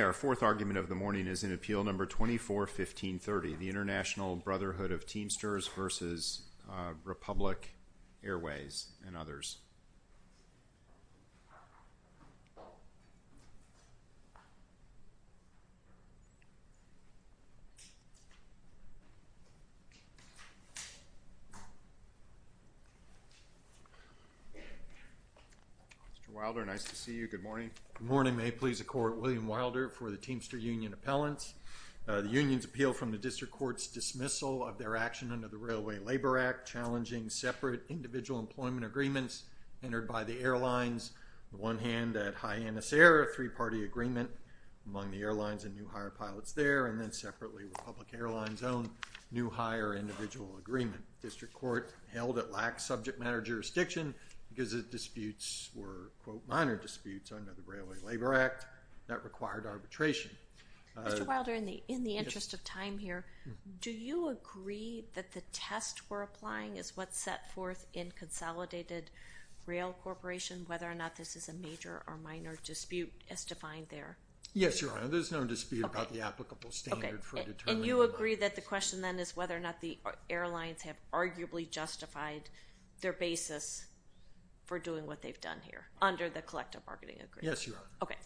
Our fourth argument of the morning is in Appeal No. 24-1530, the International Brotherhood of Teamsters v. Republic Airways, and others. Mr. Wilder, nice to see you, good morning. Good morning. May it please the Court, William Wilder for the Teamster Union Appellants. The Union's appeal from the District Court's dismissal of their action under the Railway Labor Act challenging separate individual employment agreements entered by the airlines, one hand at Hyannis Air, a three-party agreement among the airlines and new hire pilots there, and then separately Republic Airlines' own new hire individual agreement. District Court held it lacked subject matter jurisdiction because the disputes were, quote, minor disputes under the Railway Labor Act that required arbitration. Mr. Wilder, in the interest of time here, do you agree that the test we're applying is what's set forth in Consolidated Rail Corporation, whether or not this is a major or minor dispute as defined there? Yes, Your Honor. There's no dispute about the applicable standard for determining whether or not it's a minor Okay. And you agree that the question then is whether or not the airlines have arguably justified their basis for doing what they've done here under the collective bargaining agreement? Yes, Your Honor. Okay,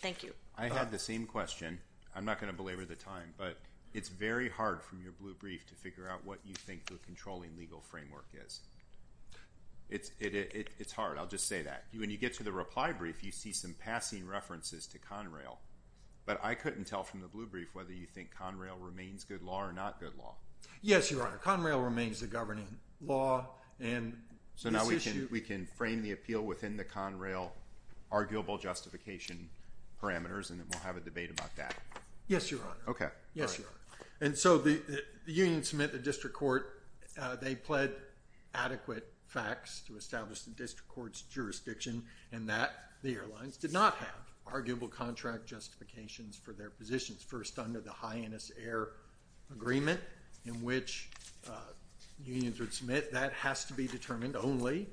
thank you. I had the same question. I'm not going to belabor the time, but it's very hard from your blue brief to figure out what you think the controlling legal framework is. It's hard. I'll just say that. When you get to the reply brief, you see some passing references to Conrail, but I couldn't tell from the blue brief whether you think Conrail remains good law or not good law. Yes, Your Honor. Conrail remains the governing law, and this issue— Yes, Your Honor. Okay. All right. And so, the unions submit to the district court—they pled adequate facts to establish the district court's jurisdiction in that the airlines did not have arguable contract justifications for their positions, first under the high NS air agreement in which unions would submit. That has to be determined only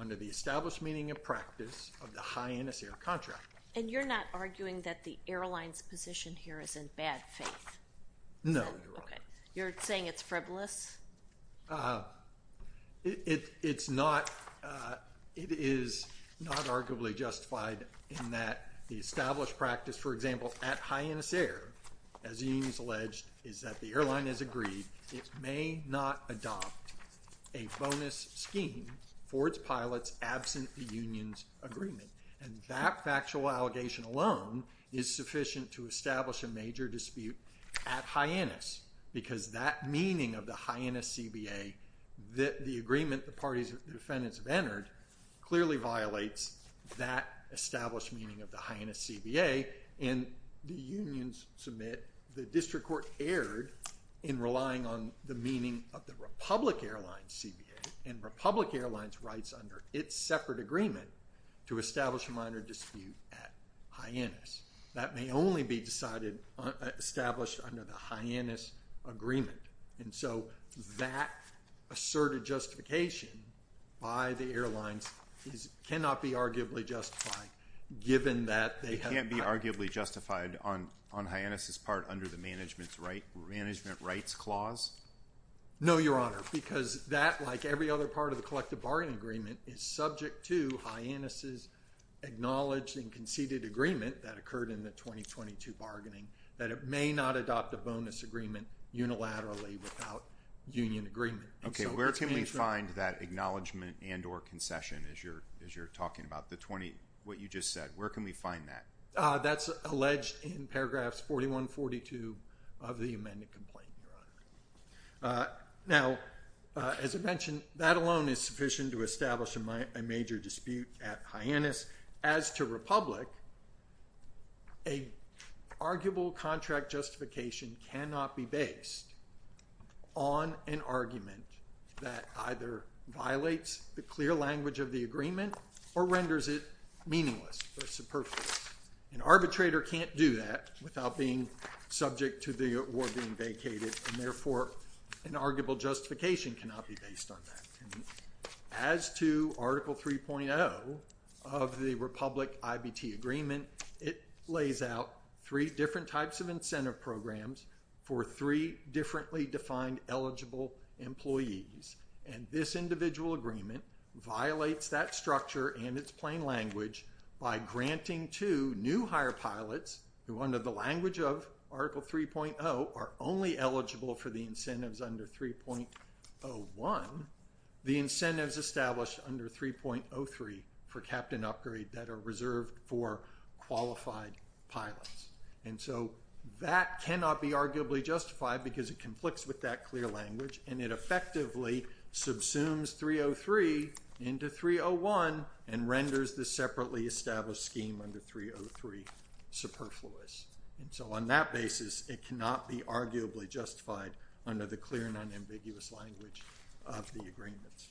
under the established meaning and practice of the high NS air contract. And you're not arguing that the airline's position here is in bad faith? No, Your Honor. Okay. You're saying it's frivolous? It's not—it is not arguably justified in that the established practice, for example, at high NS air, as the union has alleged, is that the airline has agreed it may not adopt a bonus scheme for its pilots absent the union's agreement. And that factual allegation alone is sufficient to establish a major dispute at high NS, because that meaning of the high NS CBA, the agreement the party's defendants have entered, clearly violates that established meaning of the high NS CBA, and the unions submit the district court erred in relying on the meaning of the Republic Airlines CBA and Republic Airlines rights under its separate agreement to establish a minor dispute at high NS. That may only be decided—established under the high NS agreement. And so that asserted justification by the airlines is—cannot be arguably justified given that they have— It can't be arguably justified on high NS's part under the management's right—management rights clause? No, Your Honor. Because that, like every other part of the collective bargaining agreement, is subject to high NS's acknowledged and conceded agreement that occurred in the 2022 bargaining, that it may not adopt a bonus agreement unilaterally without union agreement. Okay, where can we find that acknowledgment and or concession as you're talking about the 20—what you just said? Where can we find that? That's alleged in paragraphs 41, 42 of the amended complaint, Your Honor. Now, as I mentioned, that alone is sufficient to establish a major dispute at high NS. As to Republic, an arguable contract justification cannot be based on an argument that either violates the clear language of the agreement or renders it meaningless or superfluous. An arbitrator can't do that without being subject to the award being vacated, and therefore an arguable justification cannot be based on that. As to Article 3.0 of the Republic-IBT agreement, it lays out three different types of incentive programs for three differently defined eligible employees, and this individual agreement violates that structure and its plain language by granting to new hire pilots who under the language of Article 3.0 are only eligible for the incentives under 3.01, the incentives established under 3.03 for captain upgrade that are reserved for qualified pilots. And so that cannot be arguably justified because it conflicts with that clear language and it effectively subsumes 3.03 into 3.01 and renders the separately established scheme under 3.03 superfluous. So on that basis, it cannot be arguably justified under the clear and unambiguous language of the agreements.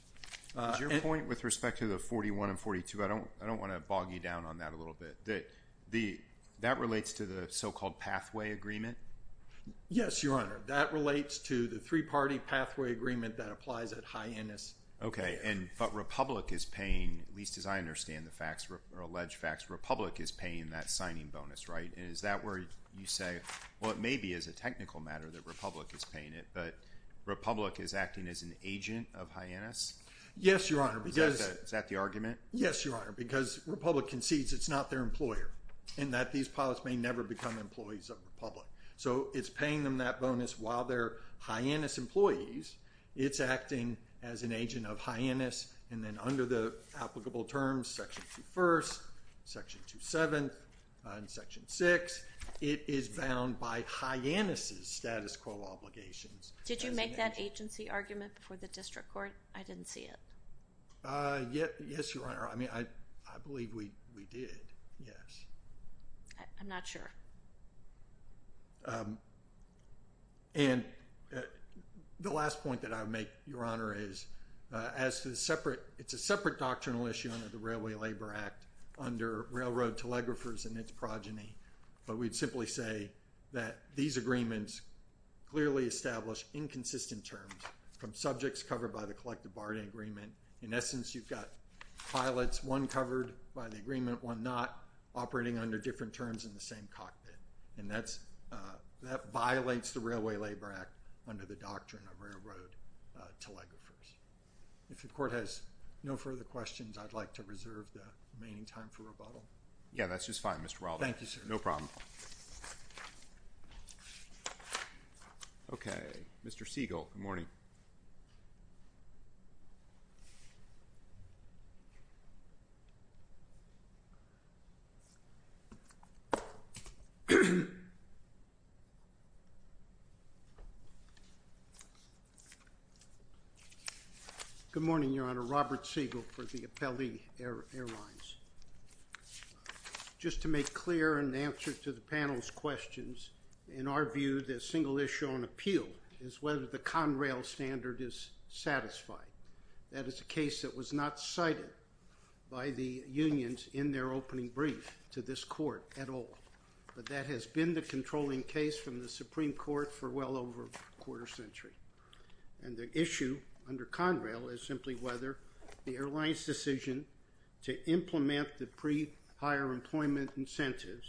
Is your point with respect to the 41 and 42, I don't want to bog you down on that a little bit, that that relates to the so-called pathway agreement? Yes, Your Honor. That relates to the three-party pathway agreement that applies at Hyannis. Okay, but Republic is paying, at least as I understand the facts or alleged facts, Republic is paying that signing bonus, right? And is that where you say, well, it may be as a technical matter that Republic is paying it, but Republic is acting as an agent of Hyannis? Yes, Your Honor. Is that the argument? Yes, Your Honor, because Republic concedes it's not their employer and that these pilots may never become employees of Republic. So it's paying them that bonus while they're Hyannis employees, it's acting as an agent of Hyannis, and then under the applicable terms, Section 21st, Section 27th, and Section 6, it is bound by Hyannis' status quo obligations. Did you make that agency argument before the district court? I didn't see it. Yes, Your Honor. I mean, I believe we did, yes. I'm not sure. And the last point that I would make, Your Honor, is as to the separate, it's a separate doctrinal issue under the Railway Labor Act under Railroad Telegraphers and its progeny, but we'd simply say that these agreements clearly establish inconsistent terms from subjects covered by the collective bargaining agreement. In essence, you've got pilots, one covered by the agreement, one not, operating under different terms in the same cockpit, and that's, that violates the Railway Labor Act under the doctrine of Railroad Telegraphers. If the court has no further questions, I'd like to reserve the remaining time for rebuttal. Yeah, that's just fine, Mr. Wilder. Thank you, sir. No problem. Okay. Mr. Siegel, good morning. Good morning, Your Honor. Robert Siegel for the Appellee Airlines. Just to make clear in answer to the panel's questions, in our view, the single issue on the appeal is whether the Conrail standard is satisfied. That is a case that was not cited by the unions in their opening brief to this court at all, but that has been the controlling case from the Supreme Court for well over a quarter century. And the issue under Conrail is simply whether the airline's decision to implement the pre-hire employment incentives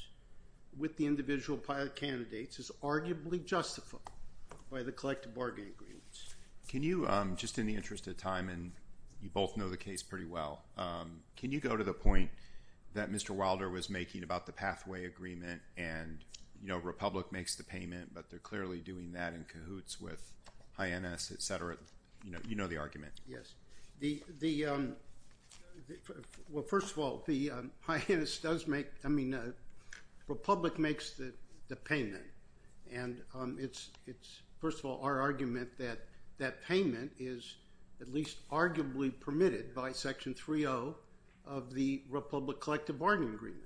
with the individual pilot candidates is arguably justifiable by the collective bargaining agreements. Can you, just in the interest of time, and you both know the case pretty well, can you go to the point that Mr. Wilder was making about the pathway agreement and, you know, Republic makes the payment, but they're clearly doing that in cahoots with INS, et cetera? You know the argument. Yes. The, well, first of all, the INS does make, I mean, Republic makes the payment, and it's, first of all, our argument that that payment is at least arguably permitted by Section 3.0 of the Republic Collective Bargaining Agreement.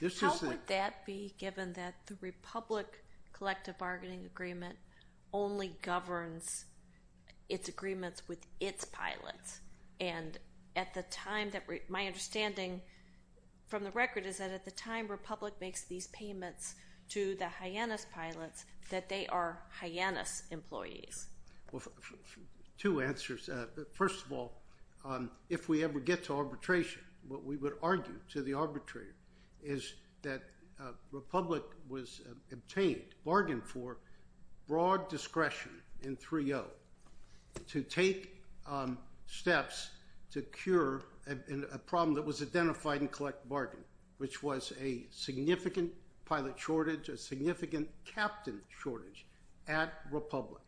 This is the- How would that be given that the Republic Collective Bargaining Agreement only governs its agreements with its pilots? And at the time that, my understanding from the record is that at the time Republic makes these payments to the Hyannis pilots, that they are Hyannis employees. Two answers. First of all, if we ever get to arbitration, what we would argue to the arbitrator is that Republic was obtained, bargained for, broad discretion in 3.0 to take steps to cure a problem that was identified in Collective Bargaining, which was a significant pilot shortage, a significant captain shortage at Republic.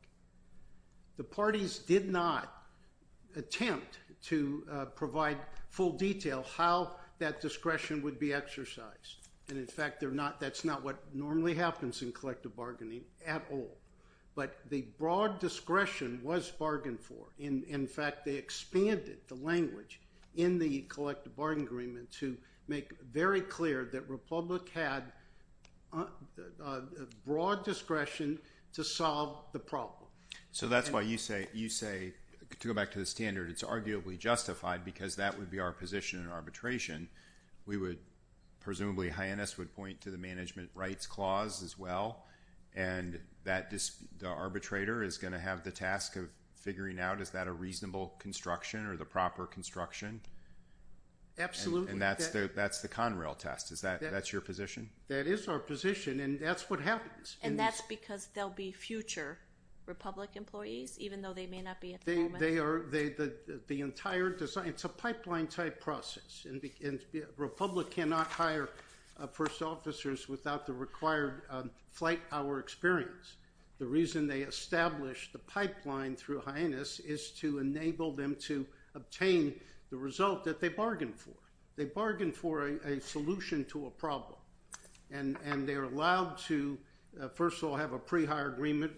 The parties did not attempt to provide full detail how that discretion would be exercised, and in fact, that's not what normally happens in collective bargaining at all. But the broad discretion was bargained for. In fact, they expanded the language in the Collective Bargaining Agreement to make very clear that Republic had broad discretion to solve the problem. So that's why you say, to go back to the standard, it's arguably justified because that would be our position in arbitration. Presumably, Hyannis would point to the Management Rights Clause as well, and the arbitrator is going to have the task of figuring out, is that a reasonable construction or the proper construction? Absolutely. And that's the Conrail test. That's your position? That is our position, and that's what happens. And that's because they'll be future Republic employees, even though they may not be at the moment? It's a pipeline-type process. Republic cannot hire first officers without the required flight hour experience. The reason they established the pipeline through Hyannis is to enable them to obtain the result that they bargained for. They bargained for a solution to a problem, and they're allowed to, first of all, have a pre-hire agreement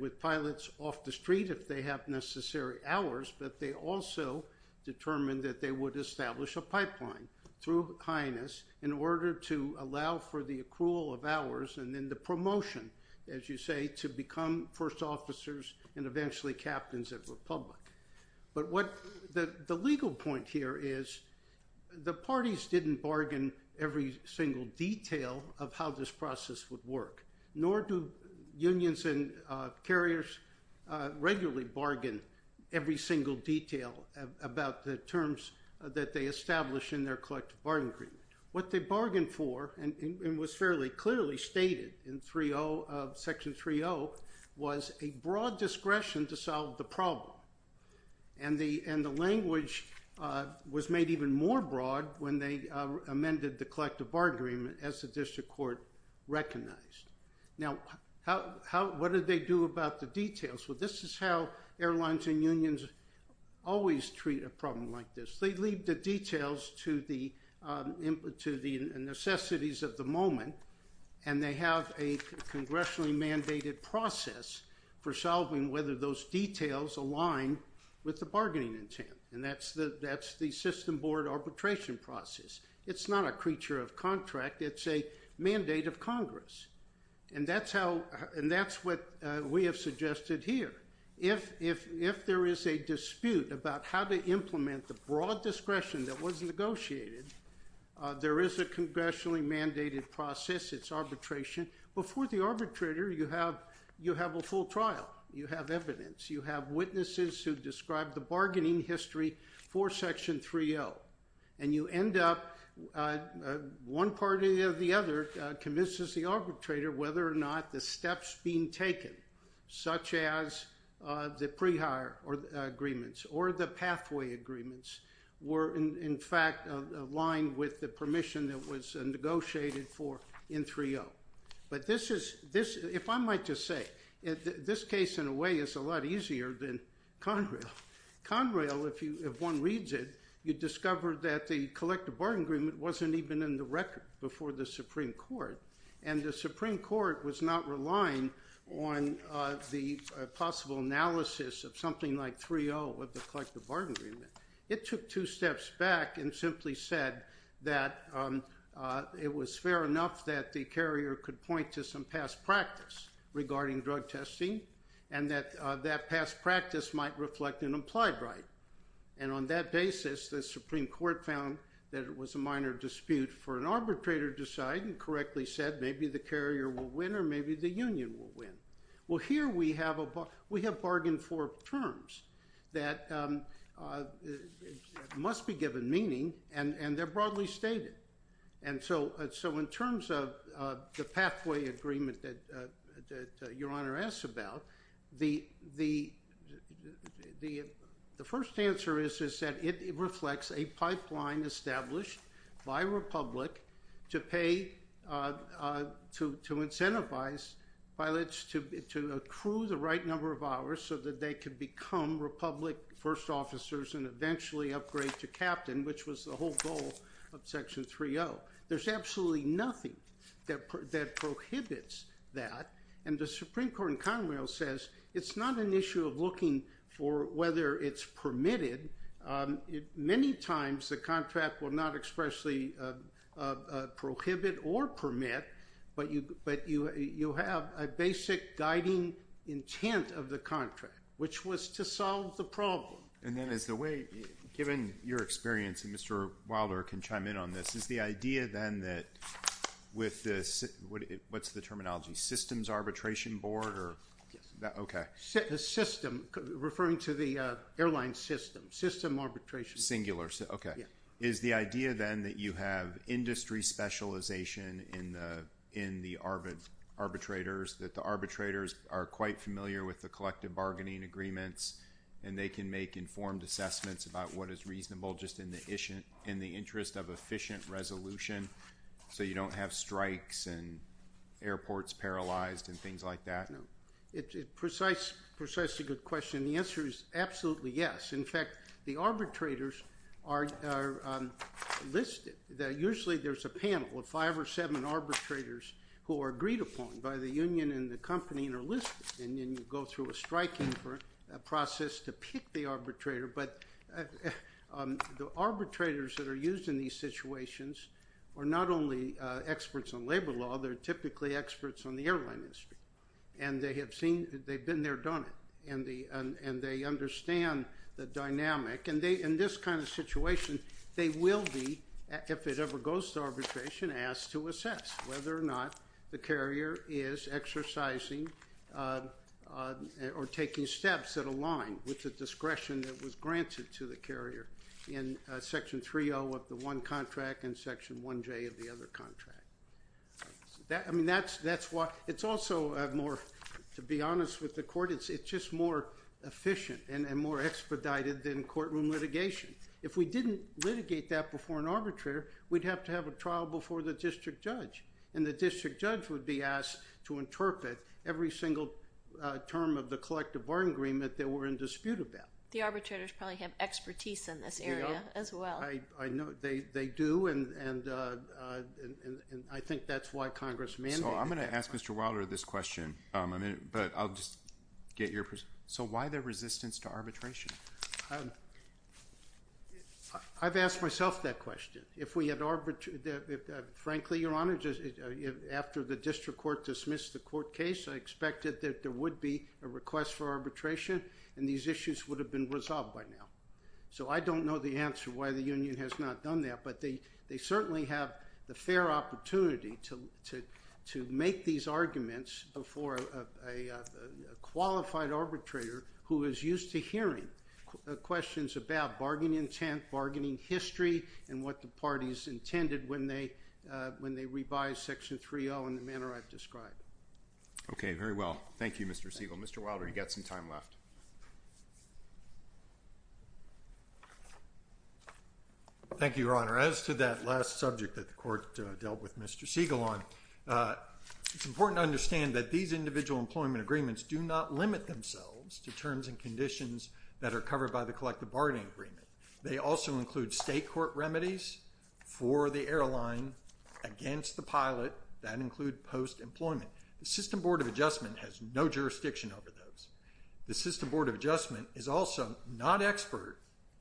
with pilots off the street if they have necessary hours, but they also determined that they would establish a pipeline through Hyannis in order to allow for the accrual of hours and then the promotion, as you say, to become first officers and eventually captains of Republic. But the legal point here is, the parties didn't bargain every single detail of how this process would work, nor do unions and carriers regularly bargain every single detail about the terms that they establish in their collective bargaining agreement. What they bargained for, and was fairly clearly stated in Section 30, was a broad discretion to solve the problem, and the language was made even more broad when they amended the collective bargaining agreement as the district court recognized. Now, what did they do about the details? Well, this is how airlines and unions always treat a problem like this. They leave the details to the necessities of the moment, and they have a congressionally mandated process for solving whether those details align with the bargaining intent, and that's the system board arbitration process. It's not a creature of contract, it's a mandate of Congress, and that's what we have suggested here. If there is a dispute about how to implement the broad discretion that was negotiated, there is a congressionally mandated process, it's arbitration. Before the arbitrator, you have a full trial. You have evidence. You have witnesses who describe the bargaining history for Section 30, and you end up, one party or the other, convinces the arbitrator whether or not the steps being taken, such as the pre-hire agreements or the pathway agreements, were in fact aligned with the permission that was negotiated for in 30. But this is, if I might just say, this case in a way is a lot easier than Conrail. Conrail, if one reads it, you discover that the collective bargaining agreement wasn't even in the record before the Supreme Court, and the Supreme Court was not relying on the possible analysis of something like 3.0 of the collective bargaining agreement. It took two steps back and simply said that it was fair enough that the carrier could point to some past practice regarding drug testing, and that that past practice might reflect an implied right. And on that basis, the Supreme Court found that it was a minor dispute for an arbitrator to decide and correctly said, maybe the carrier will win or maybe the union will win. Well, here we have bargained for terms that must be given meaning, and they're broadly stated. And so in terms of the pathway agreement that Your Honor asks about, the first answer is that it reflects a pipeline established by Republic to incentivize pilots to accrue the right number of hours so that they could become Republic first officers and eventually upgrade to captain, which was the whole goal of Section 3.0. There's absolutely nothing that prohibits that, and the Supreme Court in Conrail says it's not an issue of looking for whether it's permitted. Many times the contract will not expressly prohibit or permit, but you have a basic guiding intent of the contract, which was to solve the problem. And then is the way, given your experience, and Mr. Wilder can chime in on this, is the idea then that with the, what's the terminology, systems arbitration board, or, okay. The system, referring to the airline system, system arbitration. Singular, okay. Is the idea then that you have industry specialization in the arbitrators, that the arbitrators are quite familiar with the collective bargaining agreements, and they can make informed assessments about what is reasonable just in the interest of efficient resolution so you don't have strikes and airports paralyzed and things like that? No. It's precisely a good question, and the answer is absolutely yes. In fact, the arbitrators are listed. Usually there's a panel of five or seven arbitrators who are agreed upon by the union and the company and are listed, and then you go through a striking process to pick the arbitrator. But the arbitrators that are used in these situations are not only experts on labor law. They're typically experts on the airline industry. And they have seen, they've been there, done it, and they understand the dynamic. And they, in this kind of situation, they will be, if it ever goes to arbitration, asked to assess whether or not the carrier is exercising or taking steps that align with the discretion that was granted to the carrier in Section 3.0 of the one contract and Section 1.J of the other contract. I mean, that's why, it's also more, to be honest with the court, it's just more efficient and more expedited than courtroom litigation. If we didn't litigate that before an arbitrator, we'd have to have a trial before the district judge, and the district judge would be asked to interpret every single term of the collective bargaining agreement that we're in dispute about. The arbitrators probably have expertise in this area as well. I know, they do, and I think that's why Congress mandated that. So I'm going to ask Mr. Wilder this question, but I'll just get your, so why the resistance to arbitration? I've asked myself that question. If we had, frankly, Your Honor, after the district court dismissed the court case, I would have expected that there would be a request for arbitration, and these issues would have been resolved by now. So I don't know the answer why the union has not done that, but they certainly have the fair opportunity to make these arguments before a qualified arbitrator who is used to hearing questions about bargaining intent, bargaining history, and what the parties intended when they revised Section 3.0 in the manner I've described. Okay, very well. Thank you, Mr. Siegel. Mr. Wilder, you've got some time left. Thank you, Your Honor. As to that last subject that the court dealt with Mr. Siegel on, it's important to understand that these individual employment agreements do not limit themselves to terms and conditions that are covered by the collective bargaining agreement. They also include state court remedies for the airline against the pilot that include post-employment. The System Board of Adjustment has no jurisdiction over those. The System Board of Adjustment is also not expert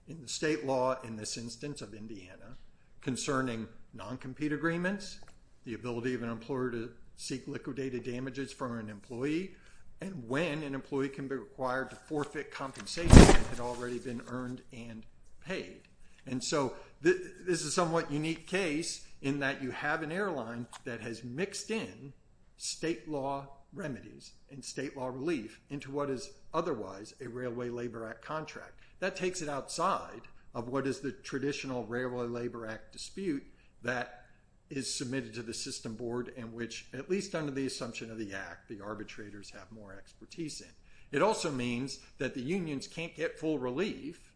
in the state law in this instance of Indiana concerning non-compete agreements, the ability of an employer to seek liquidated damages from an employee, and when an employee can be required to forfeit compensation that had already been earned and paid. And so this is a somewhat unique case in that you have an airline that has mixed in state law remedies and state law relief into what is otherwise a Railway Labor Act contract. That takes it outside of what is the traditional Railway Labor Act dispute that is submitted to the System Board and which, at least under the assumption of the Act, the arbitrators have more expertise in. It also means that the unions can't get full relief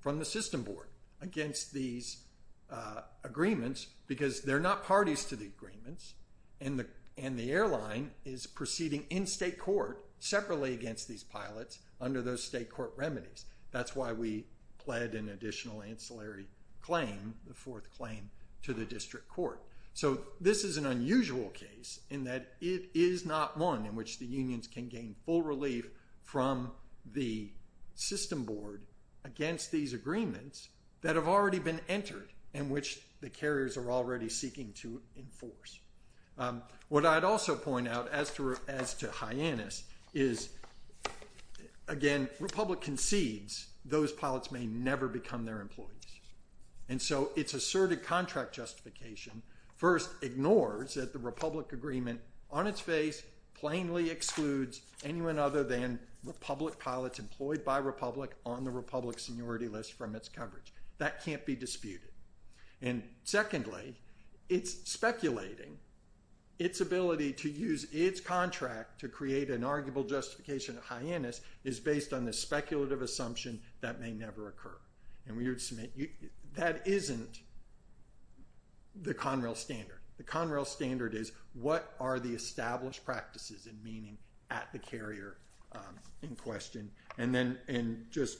from the System Board against these agreements because they're not parties to the agreements and the airline is proceeding in state court separately against these pilots under those state court remedies. That's why we pled an additional ancillary claim, the fourth claim, to the district court. So this is an unusual case in that it is not one in which the unions can gain full relief from the System Board against these agreements that have already been entered and which the carriers are already seeking to enforce. What I'd also point out as to Hyannis is, again, Republic concedes those pilots may never become their employees. And so it's asserted contract justification first ignores that the Republic agreement on its face plainly excludes anyone other than Republic pilots employed by Republic on the Republic seniority list from its coverage. That can't be disputed. And secondly, it's speculating its ability to use its contract to create an arguable justification of Hyannis is based on this speculative assumption that may never occur. And we would submit that isn't the Conrail standard. The Conrail standard is, what are the established practices and meaning at the carrier in question? And just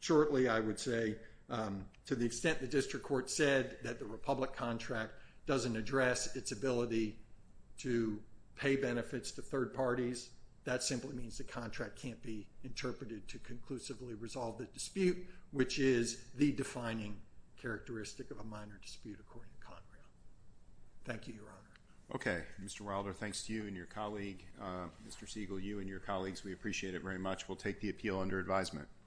shortly, I would say, to the extent the district court said that the Republic contract doesn't address its ability to pay benefits to third parties, that simply means the contract can't be interpreted to conclusively resolve the dispute, which is the defining characteristic of a minor dispute according to Conrail. Thank you, Your Honor. Okay. Mr. Wilder, thanks to you and your colleague, Mr. Siegel, you and your colleagues. We appreciate it very much. We'll take the appeal under advisement.